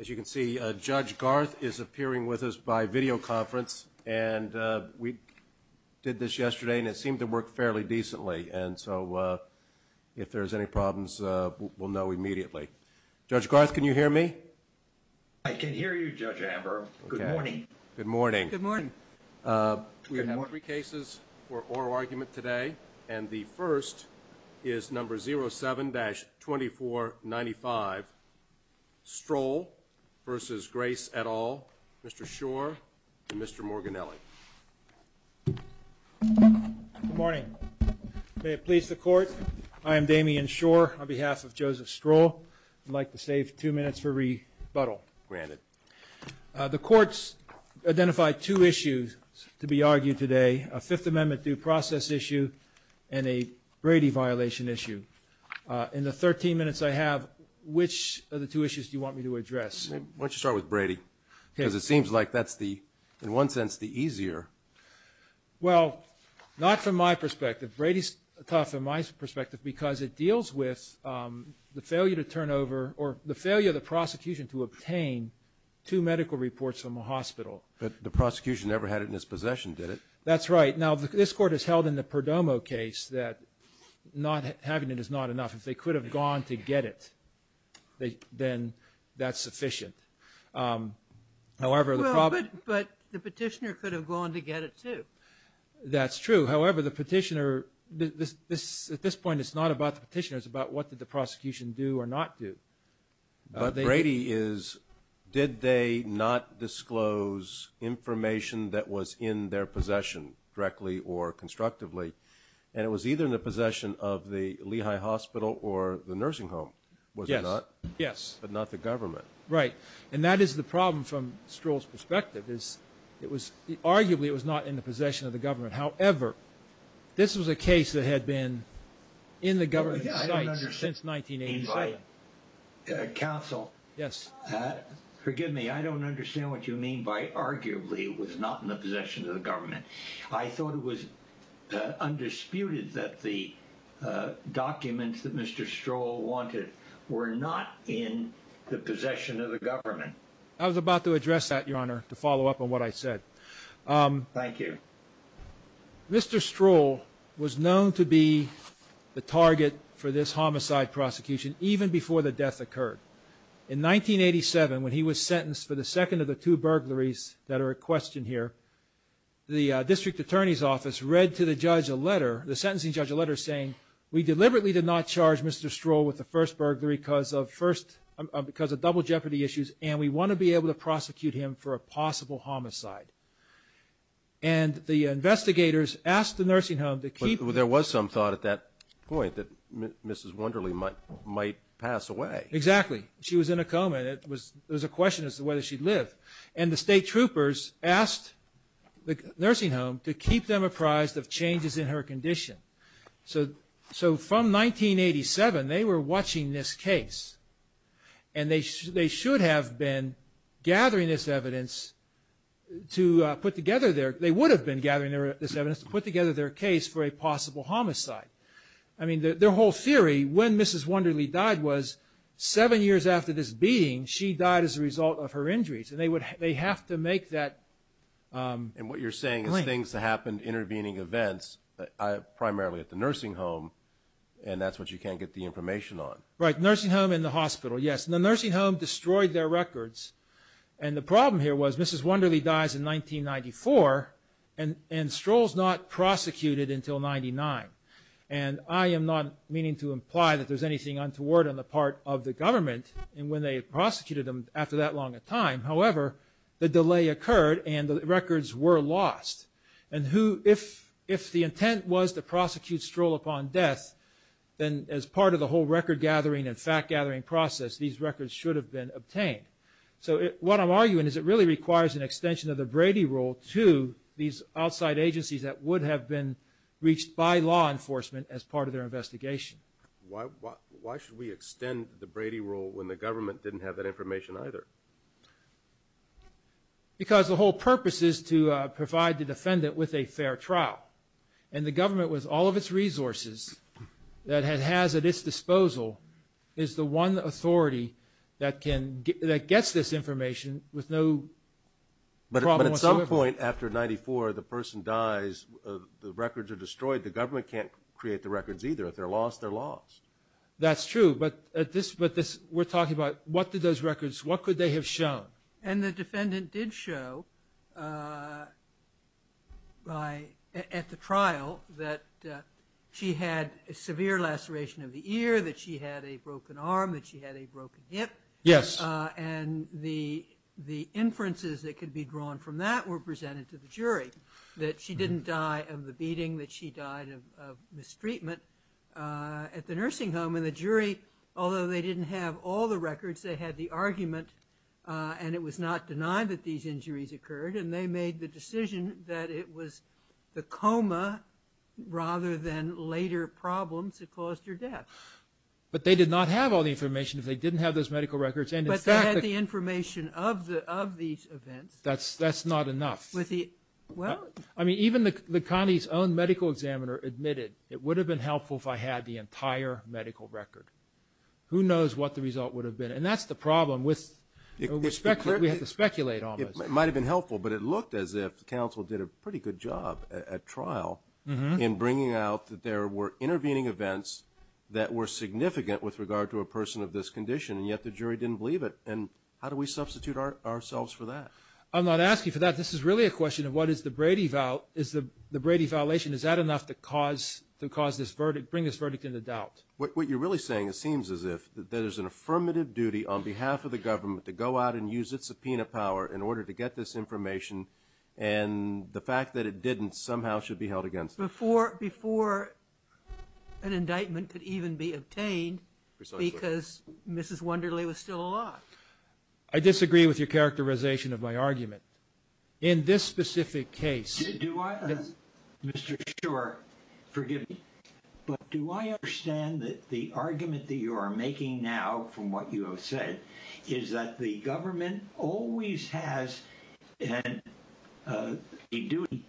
As you can see, Judge Garth is appearing with us by video conference, and we did this yesterday and it seemed to work fairly decently, and so if there's any problems, we'll know immediately. Judge Garth, can you hear me? I can hear you, Judge Amber. Good morning. Good morning. Good morning. We have three cases for oral argument today, and the first is number 07-2495, Stroll v. Grace et al., Mr. Schor, and Mr. Morganelli. Good morning. May it please the Court, I am Damian Schor on behalf of Joseph Stroll. I'd like to save two minutes for rebuttal. Granted. The courts identified two issues to be argued today, a Fifth Amendment due process issue and a Brady violation issue. In the 13 minutes I have, which of the two issues do you want me to address? Why don't you start with Brady? Because it seems like that's the, in one sense, the easier. Well, not from my perspective. Brady's tough from my perspective because it deals with the failure to turn over or the failure of the prosecution to obtain two medical reports from a hospital. But the prosecution never had it in his possession, did it? That's right. Now, this Court has held in the Perdomo case that not having it is not enough. If they could have gone to get it, then that's sufficient. Well, but the petitioner could have gone to get it, too. That's true. However, the petitioner, at this point, it's not about the petitioner. It's about what did the prosecution do or not do. But Brady is, did they not disclose information that was in their possession directly or constructively? And it was either in the possession of the Lehigh Hospital or the nursing home, was it not? Yes, yes. But not the government. Right. And that is the problem from Stroll's perspective. Arguably, it was not in the possession of the government. However, this was a case that had been in the government's sights since 1987. I don't understand. Counsel. Yes. Forgive me. I don't understand what you mean by, arguably, it was not in the possession of the government. I thought it was undisputed that the documents that Mr. Stroll wanted were not in the possession of the government. I was about to address that, Your Honor, to follow up on what I said. Thank you. Mr. Stroll was known to be the target for this homicide prosecution even before the death occurred. In 1987, when he was sentenced for the second of the two burglaries that are at question here, the district attorney's office read to the sentencing judge a letter saying, we deliberately did not charge Mr. Stroll with the first burglary because of double jeopardy issues, and we want to be able to prosecute him for a possible homicide. And the investigators asked the nursing home to keep him. And Mrs. Wonderly might pass away. Exactly. She was in a coma. There was a question as to whether she'd live. And the state troopers asked the nursing home to keep them apprised of changes in her condition. So from 1987, they were watching this case, and they should have been gathering this evidence to put together their – they would have been gathering this evidence to put together their case for a possible homicide. I mean, their whole theory, when Mrs. Wonderly died, was seven years after this beating, she died as a result of her injuries. And they have to make that claim. And what you're saying is things happened, intervening events, primarily at the nursing home, and that's what you can't get the information on. Right. Nursing home and the hospital, yes. And the nursing home destroyed their records. And the problem here was Mrs. Wonderly dies in 1994, and Stroll's not prosecuted until 1999. And I am not meaning to imply that there's anything untoward on the part of the government when they prosecuted him after that long a time. However, the delay occurred, and the records were lost. And if the intent was to prosecute Stroll upon death, then as part of the whole record-gathering and fact-gathering process, these records should have been obtained. So what I'm arguing is it really requires an extension of the Brady Rule to these outside agencies that would have been reached by law enforcement as part of their investigation. Why should we extend the Brady Rule when the government didn't have that information either? Because the whole purpose is to provide the defendant with a fair trial. And the government, with all of its resources that it has at its disposal, is the one authority that gets this information with no problem whatsoever. But at some point after 94, the person dies, the records are destroyed, the government can't create the records either. If they're lost, they're lost. That's true, but we're talking about what did those records, what could they have shown? And the defendant did show at the trial that she had a severe laceration of the ear, that she had a broken arm, that she had a broken hip. Yes. And the inferences that could be drawn from that were presented to the jury, that she didn't die of the beating, that she died of mistreatment at the nursing home. And the jury, although they didn't have all the records, they had the argument, and it was not denied that these injuries occurred, and they made the decision that it was the coma rather than later problems that caused her death. But they did not have all the information if they didn't have those medical records. But they had the information of these events. That's not enough. I mean, even the county's own medical examiner admitted, it would have been helpful if I had the entire medical record. Who knows what the result would have been? And that's the problem. We have to speculate on this. It might have been helpful, but it looked as if the counsel did a pretty good job at trial in bringing out that there were intervening events that were significant with regard to a person of this condition, and yet the jury didn't believe it. And how do we substitute ourselves for that? I'm not asking for that. This is really a question of what is the Brady violation. Is that enough to bring this verdict into doubt? What you're really saying seems as if there's an affirmative duty on behalf of the government to go out and use its subpoena power in order to get this information, and the fact that it didn't somehow should be held against it. Before an indictment could even be obtained because Mrs. Wunderle was still alive. I disagree with your characterization of my argument. In this specific case, Mr. Shurer, forgive me, but do I understand that the argument that you are making now from what you have said is that the government always has a duty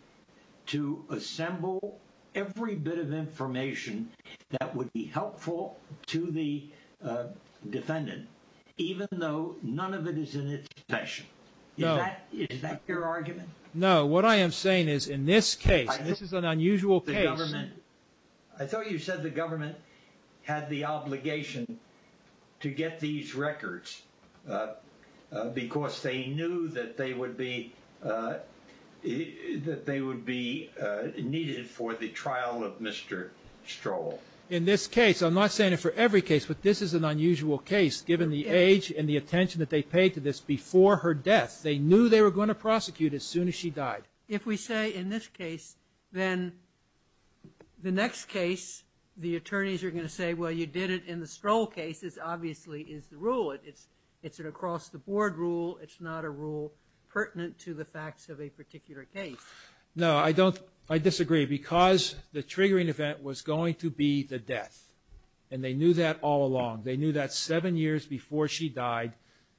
to assemble every bit of information that would be helpful to the defendant, even though none of it is in its possession? Is that your argument? No. What I am saying is in this case, this is an unusual case. I thought you said the government had the obligation to get these records because they knew that they would be needed for the trial of Mr. Strohl. In this case, I'm not saying it for every case, but this is an unusual case given the age and the attention that they paid to this before her death. They knew they were going to prosecute as soon as she died. If we say in this case, then the next case the attorneys are going to say, well, you did it in the Strohl case, this obviously is the rule. It's an across-the-board rule. It's not a rule pertinent to the facts of a particular case. No, I disagree because the triggering event was going to be the death, and they knew that all along. They knew that seven years before she died,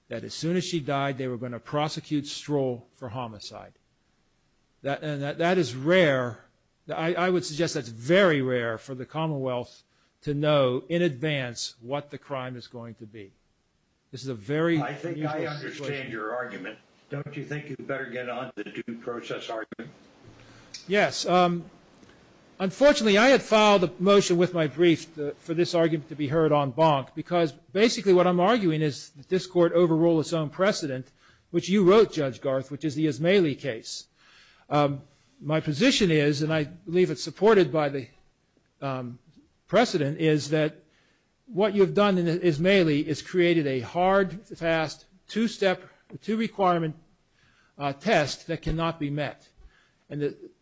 that as soon as she died, they were going to prosecute Strohl for homicide. That is rare. I would suggest that's very rare for the Commonwealth to know in advance what the crime is going to be. This is a very unusual situation. I think I understand your argument. Don't you think you'd better get on to the due process argument? Yes. Unfortunately, I had filed a motion with my brief for this argument to be heard en banc because basically what I'm arguing is that this Court overruled its own precedent, which you wrote, Judge Garth, which is the Ismaili case. My position is, and I believe it's supported by the precedent, is that what you've done in Ismaili is created a hard, fast, two-step, two-requirement test that cannot be met.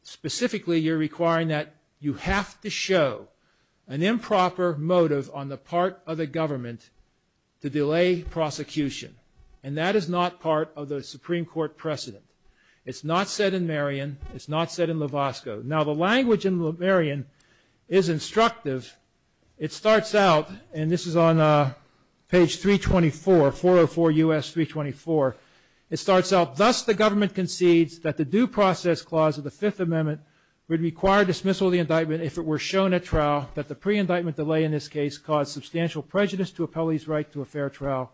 Specifically, you're requiring that you have to show an improper motive on the part of the government to delay prosecution, and that is not part of the Supreme Court precedent. It's not said in Marion. It's not said in Lovasco. Now, the language in Marion is instructive. It starts out, and this is on page 324, 404 U.S. 324. It starts out, Thus the government concedes that the due process clause of the Fifth Amendment would require dismissal of the indictment if it were shown at trial, that the pre-indictment delay in this case caused substantial prejudice to appellee's right to a fair trial,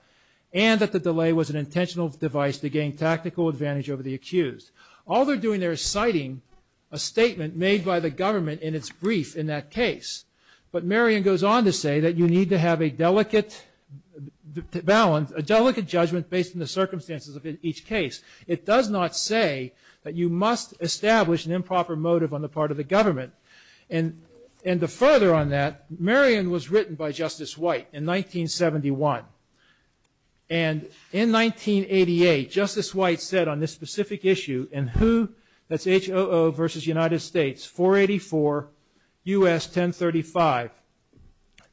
and that the delay was an intentional device to gain tactical advantage over the accused. All they're doing there is citing a statement made by the government in its brief in that case, but Marion goes on to say that you need to have a delicate balance, a delicate judgment based on the circumstances of each case. It does not say that you must establish an improper motive on the part of the government, and to further on that, Marion was written by Justice White in 1971, and in 1988, Justice White said on this specific issue in WHO, that's HOO versus United States, 484 U.S. 1035.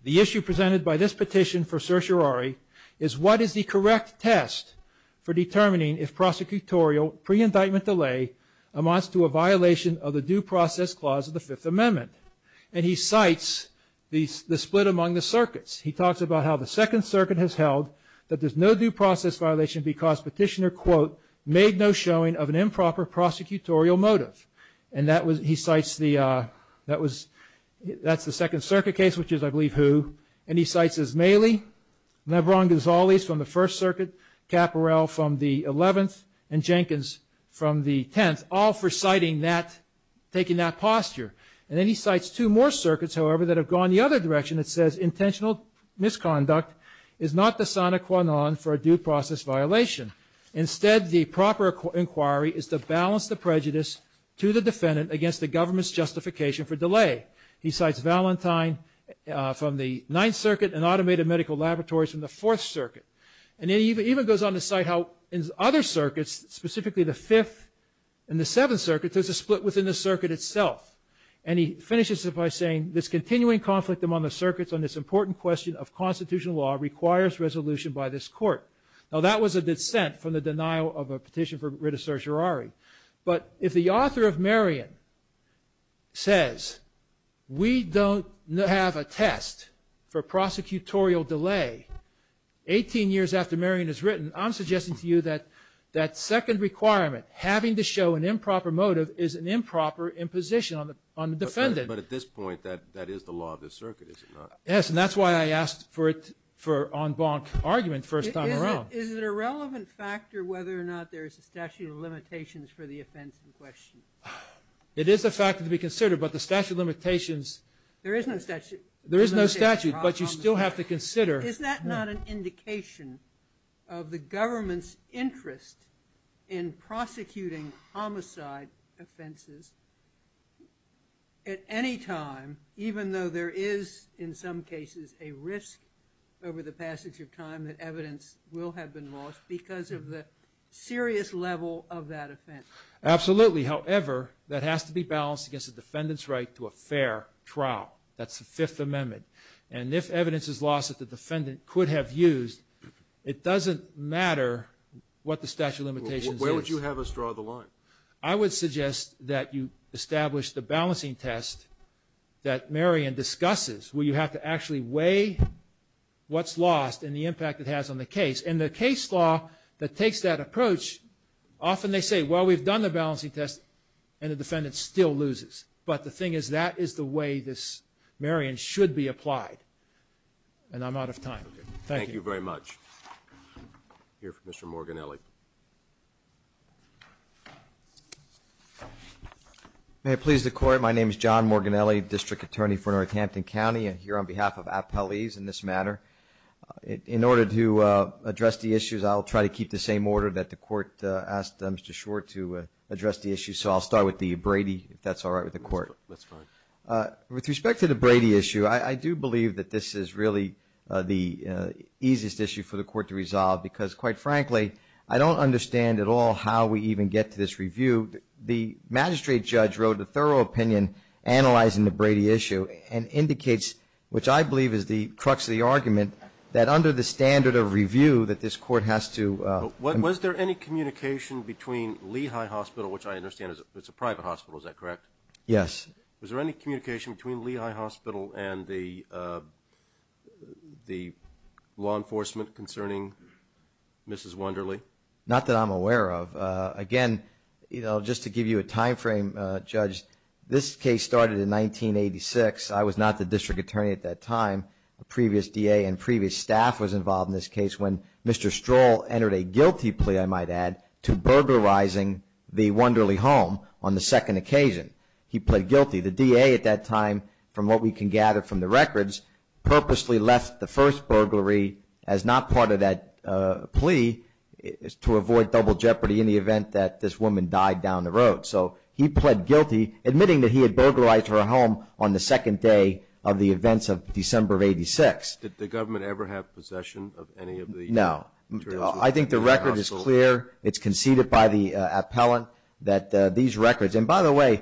The issue presented by this petition for certiorari is what is the correct test for determining if prosecutorial pre-indictment delay amounts to a violation of the due process clause of the Fifth Amendment, he talks about how the Second Circuit has held that there's no due process violation because petitioner quote, made no showing of an improper prosecutorial motive. And that was, he cites the, that was, that's the Second Circuit case, which is I believe HOO, and he cites Ismaili, Lebron Gonzalez from the First Circuit, Caporell from the Eleventh, and Jenkins from the Tenth, all for citing that, taking that posture. And then he cites two more circuits, however, that have gone the other direction, it says intentional misconduct is not the sine qua non for a due process violation. Instead, the proper inquiry is to balance the prejudice to the defendant against the government's justification for delay. He cites Valentine from the Ninth Circuit and automated medical laboratories from the Fourth Circuit. And then he even goes on to cite how in other circuits, specifically the Fifth and the Seventh Circuits, there's a split within the circuit itself. And he finishes it by saying, this continuing conflict among the circuits on this important question of constitutional law requires resolution by this court. Now that was a dissent from the denial of a petition for writ of certiorari. But if the author of Marion says, we don't have a test for prosecutorial delay, 18 years after Marion is written, I'm suggesting to you that that second requirement, having to show an improper motive is an improper imposition on the defendant. But at this point, that is the law of the circuit, is it not? Yes, and that's why I asked for it for en banc argument first time around. Is it a relevant factor whether or not there's a statute of limitations for the offense in question? It is a factor to be considered, but the statute of limitations. There is no statute. There is no statute, but you still have to consider. Is that not an indication of the government's interest in prosecuting homicide offenses at any time, even though there is, in some cases, a risk over the passage of time that evidence will have been lost because of the serious level of that offense? Absolutely. However, that has to be balanced against the defendant's right to a fair trial. That's the Fifth Amendment. And if evidence is lost that the defendant could have used, it doesn't matter what the statute of limitations is. Well, where would you have us draw the line? I would suggest that you establish the balancing test that Marion discusses, where you have to actually weigh what's lost and the impact it has on the case. And the case law that takes that approach, often they say, well, we've done the balancing test, and the defendant still loses. But the thing is, that is the way this, Marion, should be applied. And I'm out of time. Thank you. Thank you very much. We'll hear from Mr. Morganelli. May it please the Court. My name is John Morganelli, District Attorney for Northampton County. I'm here on behalf of Appellees in this matter. In order to address the issues, I'll try to keep the same order that the Court asked Mr. Schwartz to address the issues. So I'll start with the Brady, if that's all right with the Court. That's fine. With respect to the Brady issue, I do believe that this is really the easiest issue for the Court to resolve, because, quite frankly, I don't understand at all how we even get to this review. The magistrate judge wrote a thorough opinion analyzing the Brady issue and indicates, which I believe is the crux of the argument, that under the standard of review that this Court has to Was there any communication between Lehigh Hospital, which I understand is a private hospital, is that correct? Yes. Was there any communication between Lehigh Hospital and the law enforcement concerning Mrs. Wonderley? Not that I'm aware of. Again, just to give you a time frame, Judge, this case started in 1986. I was not the District Attorney at that time. A previous DA and previous staff was involved in this case when Mr. Stroll entered a guilty plea, I might add, to burglarizing the Wonderley home on the second occasion. He pled guilty. The DA at that time, from what we can gather from the records, purposely left the first burglary as not part of that plea to avoid double jeopardy in the event that this woman died down the road. So he pled guilty, admitting that he had burglarized her home on the second day of the events of December of 1986. Did the government ever have possession of any of these? No. I think the record is clear. It's conceded by the appellant that these records, and by the way,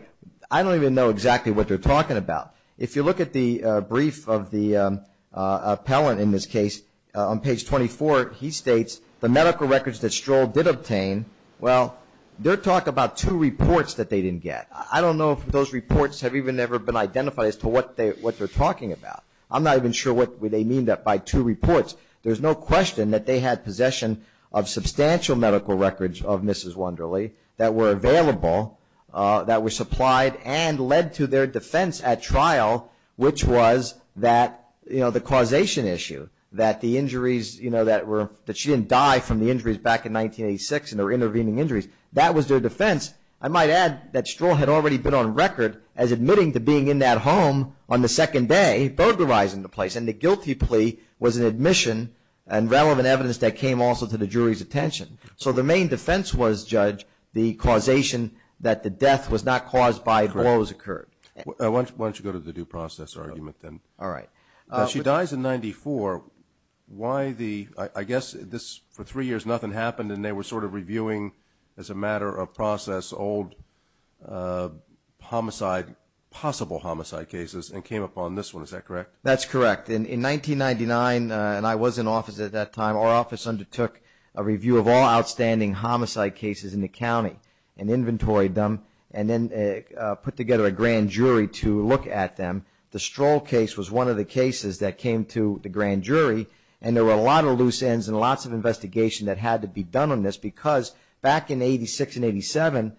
I don't even know exactly what they're talking about. If you look at the brief of the appellant in this case, on page 24, he states, the medical records that Stroll did obtain, well, they're talking about two reports that they didn't get. I don't know if those reports have even ever been identified as to what they're talking about. I'm not even sure what they mean by two reports. There's no question that they had possession of substantial medical records of Mrs. Wonderley that were available, that were supplied, and led to their defense at trial, which was the causation issue, that the injuries, you know, that she didn't die from the injuries back in 1986 and there were intervening injuries. That was their defense. I might add that Stroll had already been on record as admitting to being in that home on the second day, burglarizing the place, and the guilty plea was an admission and relevant evidence that came also to the jury's attention. So the main defense was, Judge, the causation that the death was not caused by what was occurred. Why don't you go to the due process argument then? All right. She dies in 94. Why the, I guess this, for three years nothing happened, and they were sort of reviewing as a matter of process old homicide, possible homicide cases, and came upon this one. Is that correct? That's correct. In 1999, and I was in office at that time, our office undertook a review of all outstanding homicide cases in the county and inventoried them and then put together a grand jury to look at them. The Stroll case was one of the cases that came to the grand jury, and there were a lot of loose ends and lots of investigation that had to be done on this because back in 86 and 87,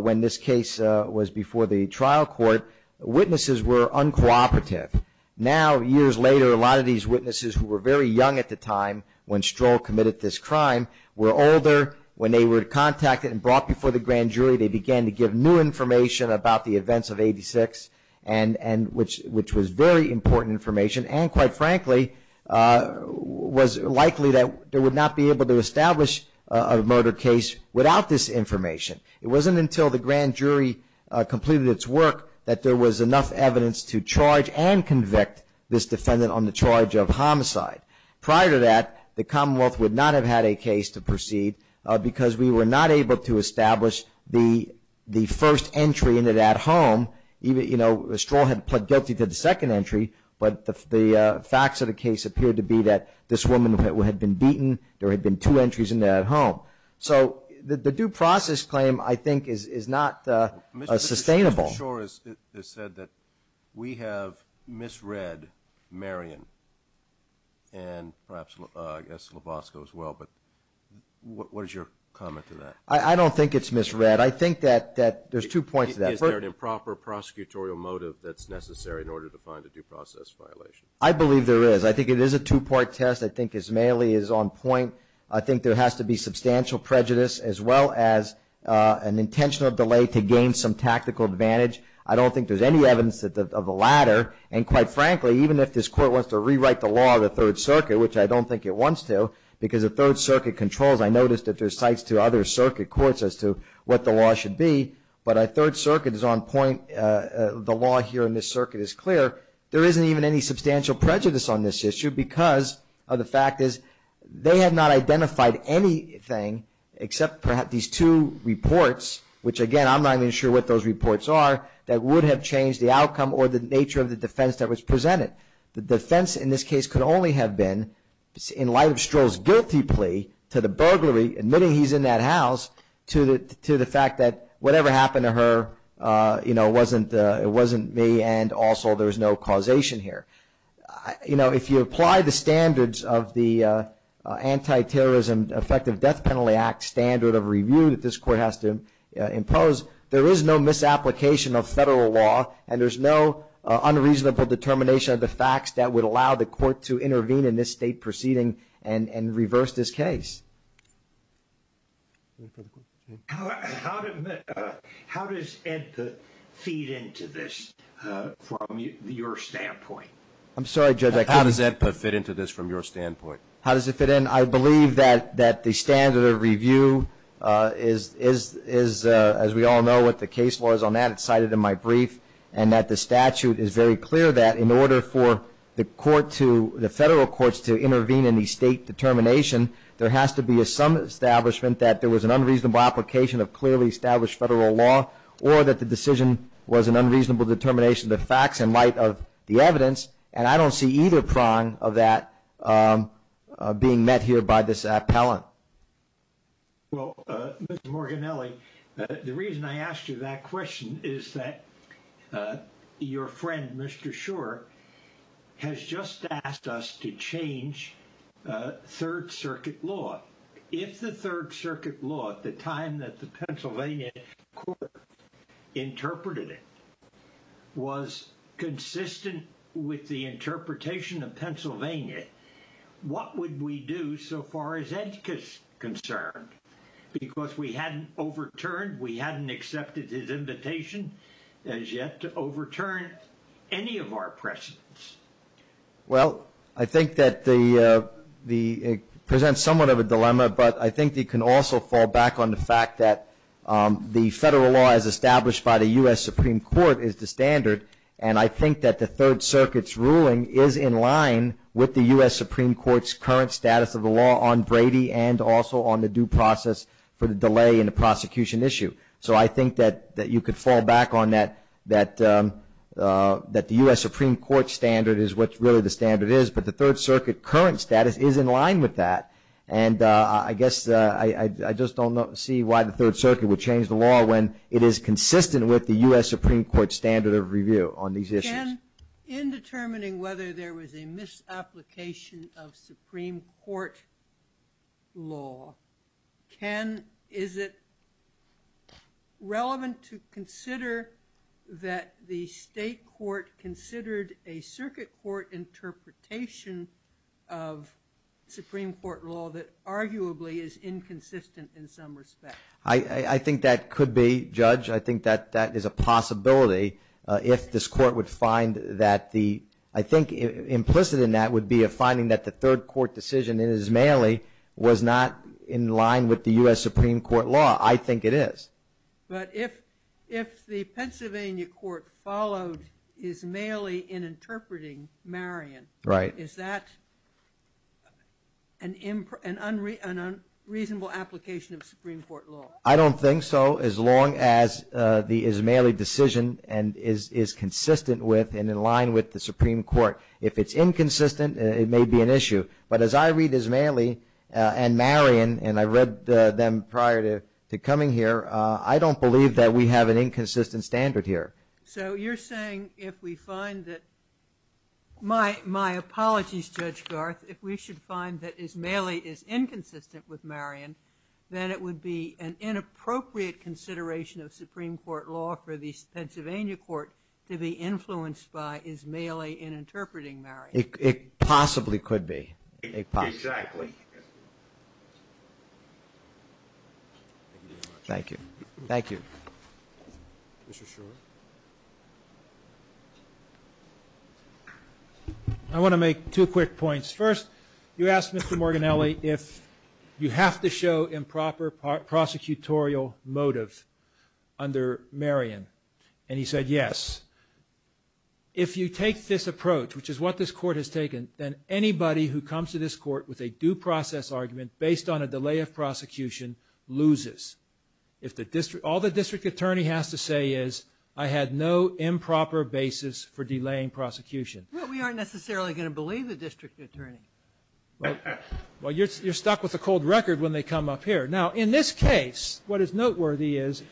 when this case was before the trial court, witnesses were uncooperative. Now, years later, a lot of these witnesses who were very young at the time when Stroll committed this crime were older. When they were contacted and brought before the grand jury, they began to give new information about the events of 86 and which was very important information and, quite frankly, was likely that they would not be able to establish a murder case without this information. It wasn't until the grand jury completed its work that there was enough evidence to charge and convict this defendant on the charge of homicide. Prior to that, the Commonwealth would not have had a case to proceed because we were not able to establish the first entry into that home. Stroll had pled guilty to the second entry, but the facts of the case appeared to be that this woman had been beaten. There had been two entries in that home. So the due process claim, I think, is not sustainable. Mr. Shor has said that we have misread Marion and perhaps, I guess, Lovasco as well, but what is your comment to that? I don't think it's misread. I think that there's two points to that. Is there an improper prosecutorial motive that's necessary in order to find a due process violation? I believe there is. I think it is a two-part test. I think Ismaili is on point. I think there has to be substantial prejudice as well as an intentional delay to gain some tactical advantage. I don't think there's any evidence of the latter and, quite frankly, even if this Court wants to rewrite the law of the Third Circuit, which I don't think it wants to, because the Third Circuit controls. I noticed that there are cites to other circuit courts as to what the law should be, but the Third Circuit is on point. The law here in this circuit is clear. There isn't even any substantial prejudice on this issue because of the fact that they have not identified anything except perhaps these two reports, which, again, I'm not even sure what those reports are, that would have changed the outcome or the nature of the defense that was presented. The defense in this case could only have been, in light of Stroll's guilty plea to the burglary, admitting he's in that house, to the fact that whatever happened to her, you know, it wasn't me and also there's no causation here. You know, if you apply the standards of the Anti-Terrorism Effective Death Penalty Act standard of review that this Court has to impose, there is no misapplication of federal law and there's no unreasonable determination of the facts that would allow the Court to intervene in this State proceeding and reverse this case. How does it fit into this from your standpoint? I'm sorry, Judge, I can't hear you. How does it fit into this from your standpoint? How does it fit in? I believe that the standard of review is, as we all know, what the case law is on that. That's cited in my brief and that the statute is very clear that in order for the court to, the federal courts to intervene in the State determination, there has to be some establishment that there was an unreasonable application of clearly established federal law or that the decision was an unreasonable determination of the facts in light of the evidence and I don't see either prong of that being met here by this appellant. Well, Mr. Morganelli, the reason I asked you that question is that your friend, Mr. Schor, has just asked us to change Third Circuit law. If the Third Circuit law at the time that the Pennsylvania Court interpreted it was consistent with the interpretation of Pennsylvania, what would we do so far as EDCA is concerned? Because we hadn't overturned, we hadn't accepted his invitation as yet to overturn any of our precedents. Well, I think that it presents somewhat of a dilemma, but I think you can also fall back on the fact that the federal law as established by the U.S. Supreme Court is the standard and I think that the Third Circuit's ruling is in line with the U.S. Supreme Court's current status of the law on Brady and also on the due process for the delay in the prosecution issue. So I think that you could fall back on that, that the U.S. Supreme Court standard is what really the standard is, but the Third Circuit current status is in line with that and I guess I just don't see why the Third Circuit would change the law when it is consistent with the U.S. Supreme Court standard of review on these issues. Ken, in determining whether there was a misapplication of Supreme Court law, Ken, is it relevant to consider that the state court considered a circuit court interpretation of Supreme Court law that arguably is inconsistent in some respect? I think that could be, Judge. I think that that is a possibility if this court would find that the, I think implicit in that would be a finding that the third court decision in Ismaili was not in line with the U.S. Supreme Court law. I think it is. But if the Pennsylvania court followed Ismaili in interpreting Marion, is that an unreasonable application of Supreme Court law? I don't think so, as long as the Ismaili decision is consistent with and in line with the Supreme Court. If it is inconsistent, it may be an issue. But as I read Ismaili and Marion, and I read them prior to coming here, I don't believe that we have an inconsistent standard here. So you're saying if we find that, my apologies, Judge Garth, if we should find that Ismaili is inconsistent with Marion, then it would be an inappropriate consideration of Supreme Court law for the Pennsylvania court to be influenced by Ismaili in interpreting Marion. It possibly could be. Exactly. Thank you. Thank you. Mr. Schor. I want to make two quick points. First, you asked Mr. Morganelli if you have to show improper prosecutorial motive under Marion. And he said yes. If you take this approach, which is what this court has taken, then anybody who comes to this court with a due process argument based on a delay of prosecution loses. All the district attorney has to say is I had no improper basis for delaying prosecution. Well, we aren't necessarily going to believe the district attorney. Well, you're stuck with a cold record when they come up here. Now, in this case, what is noteworthy is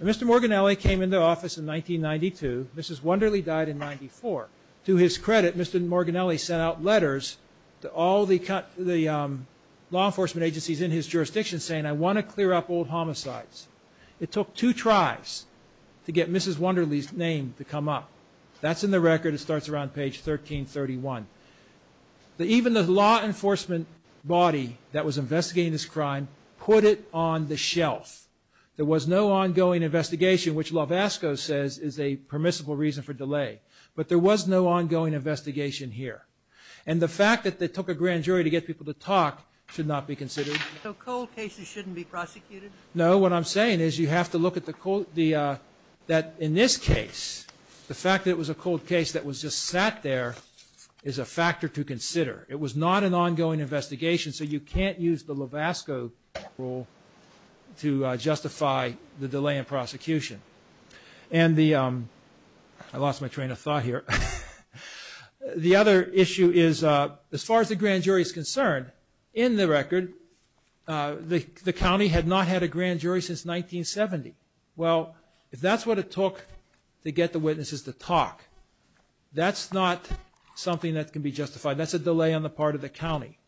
Mr. Morganelli came into office in 1992. Mrs. Wonderly died in 1994. To his credit, Mr. Morganelli sent out letters to all the law enforcement agencies in his jurisdiction saying I want to clear up old homicides. It took two tries to get Mrs. Wonderly's name to come up. That's in the record. It starts around page 1331. Even the law enforcement body that was investigating this crime put it on the shelf. There was no ongoing investigation, which Lovasco says is a permissible reason for delay. But there was no ongoing investigation here. And the fact that they took a grand jury to get people to talk should not be considered. So cold cases shouldn't be prosecuted? No. What I'm saying is you have to look at the cold the that in this case, the fact that it was a cold case that was just sat there is a factor to consider. It was not an ongoing investigation, so you can't use the Lovasco rule to justify the delay in prosecution. And the I lost my train of thought here. The other issue is as far as the grand jury is concerned, in the record the county had not had a grand jury since 1970. Well, if that's what it took to get the witnesses to talk, that's not something that can be justified. That's a delay on the part of the county.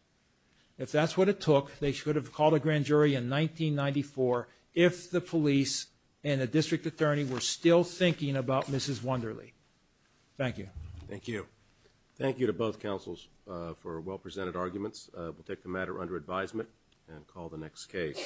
If that's what it took, they should have called a grand jury in 1994 if the police and a district attorney were still thinking about Mrs. Wonderly. Thank you. Thank you. Thank you to both councils for well-presented arguments. We'll take the matter under advisement and call the next case.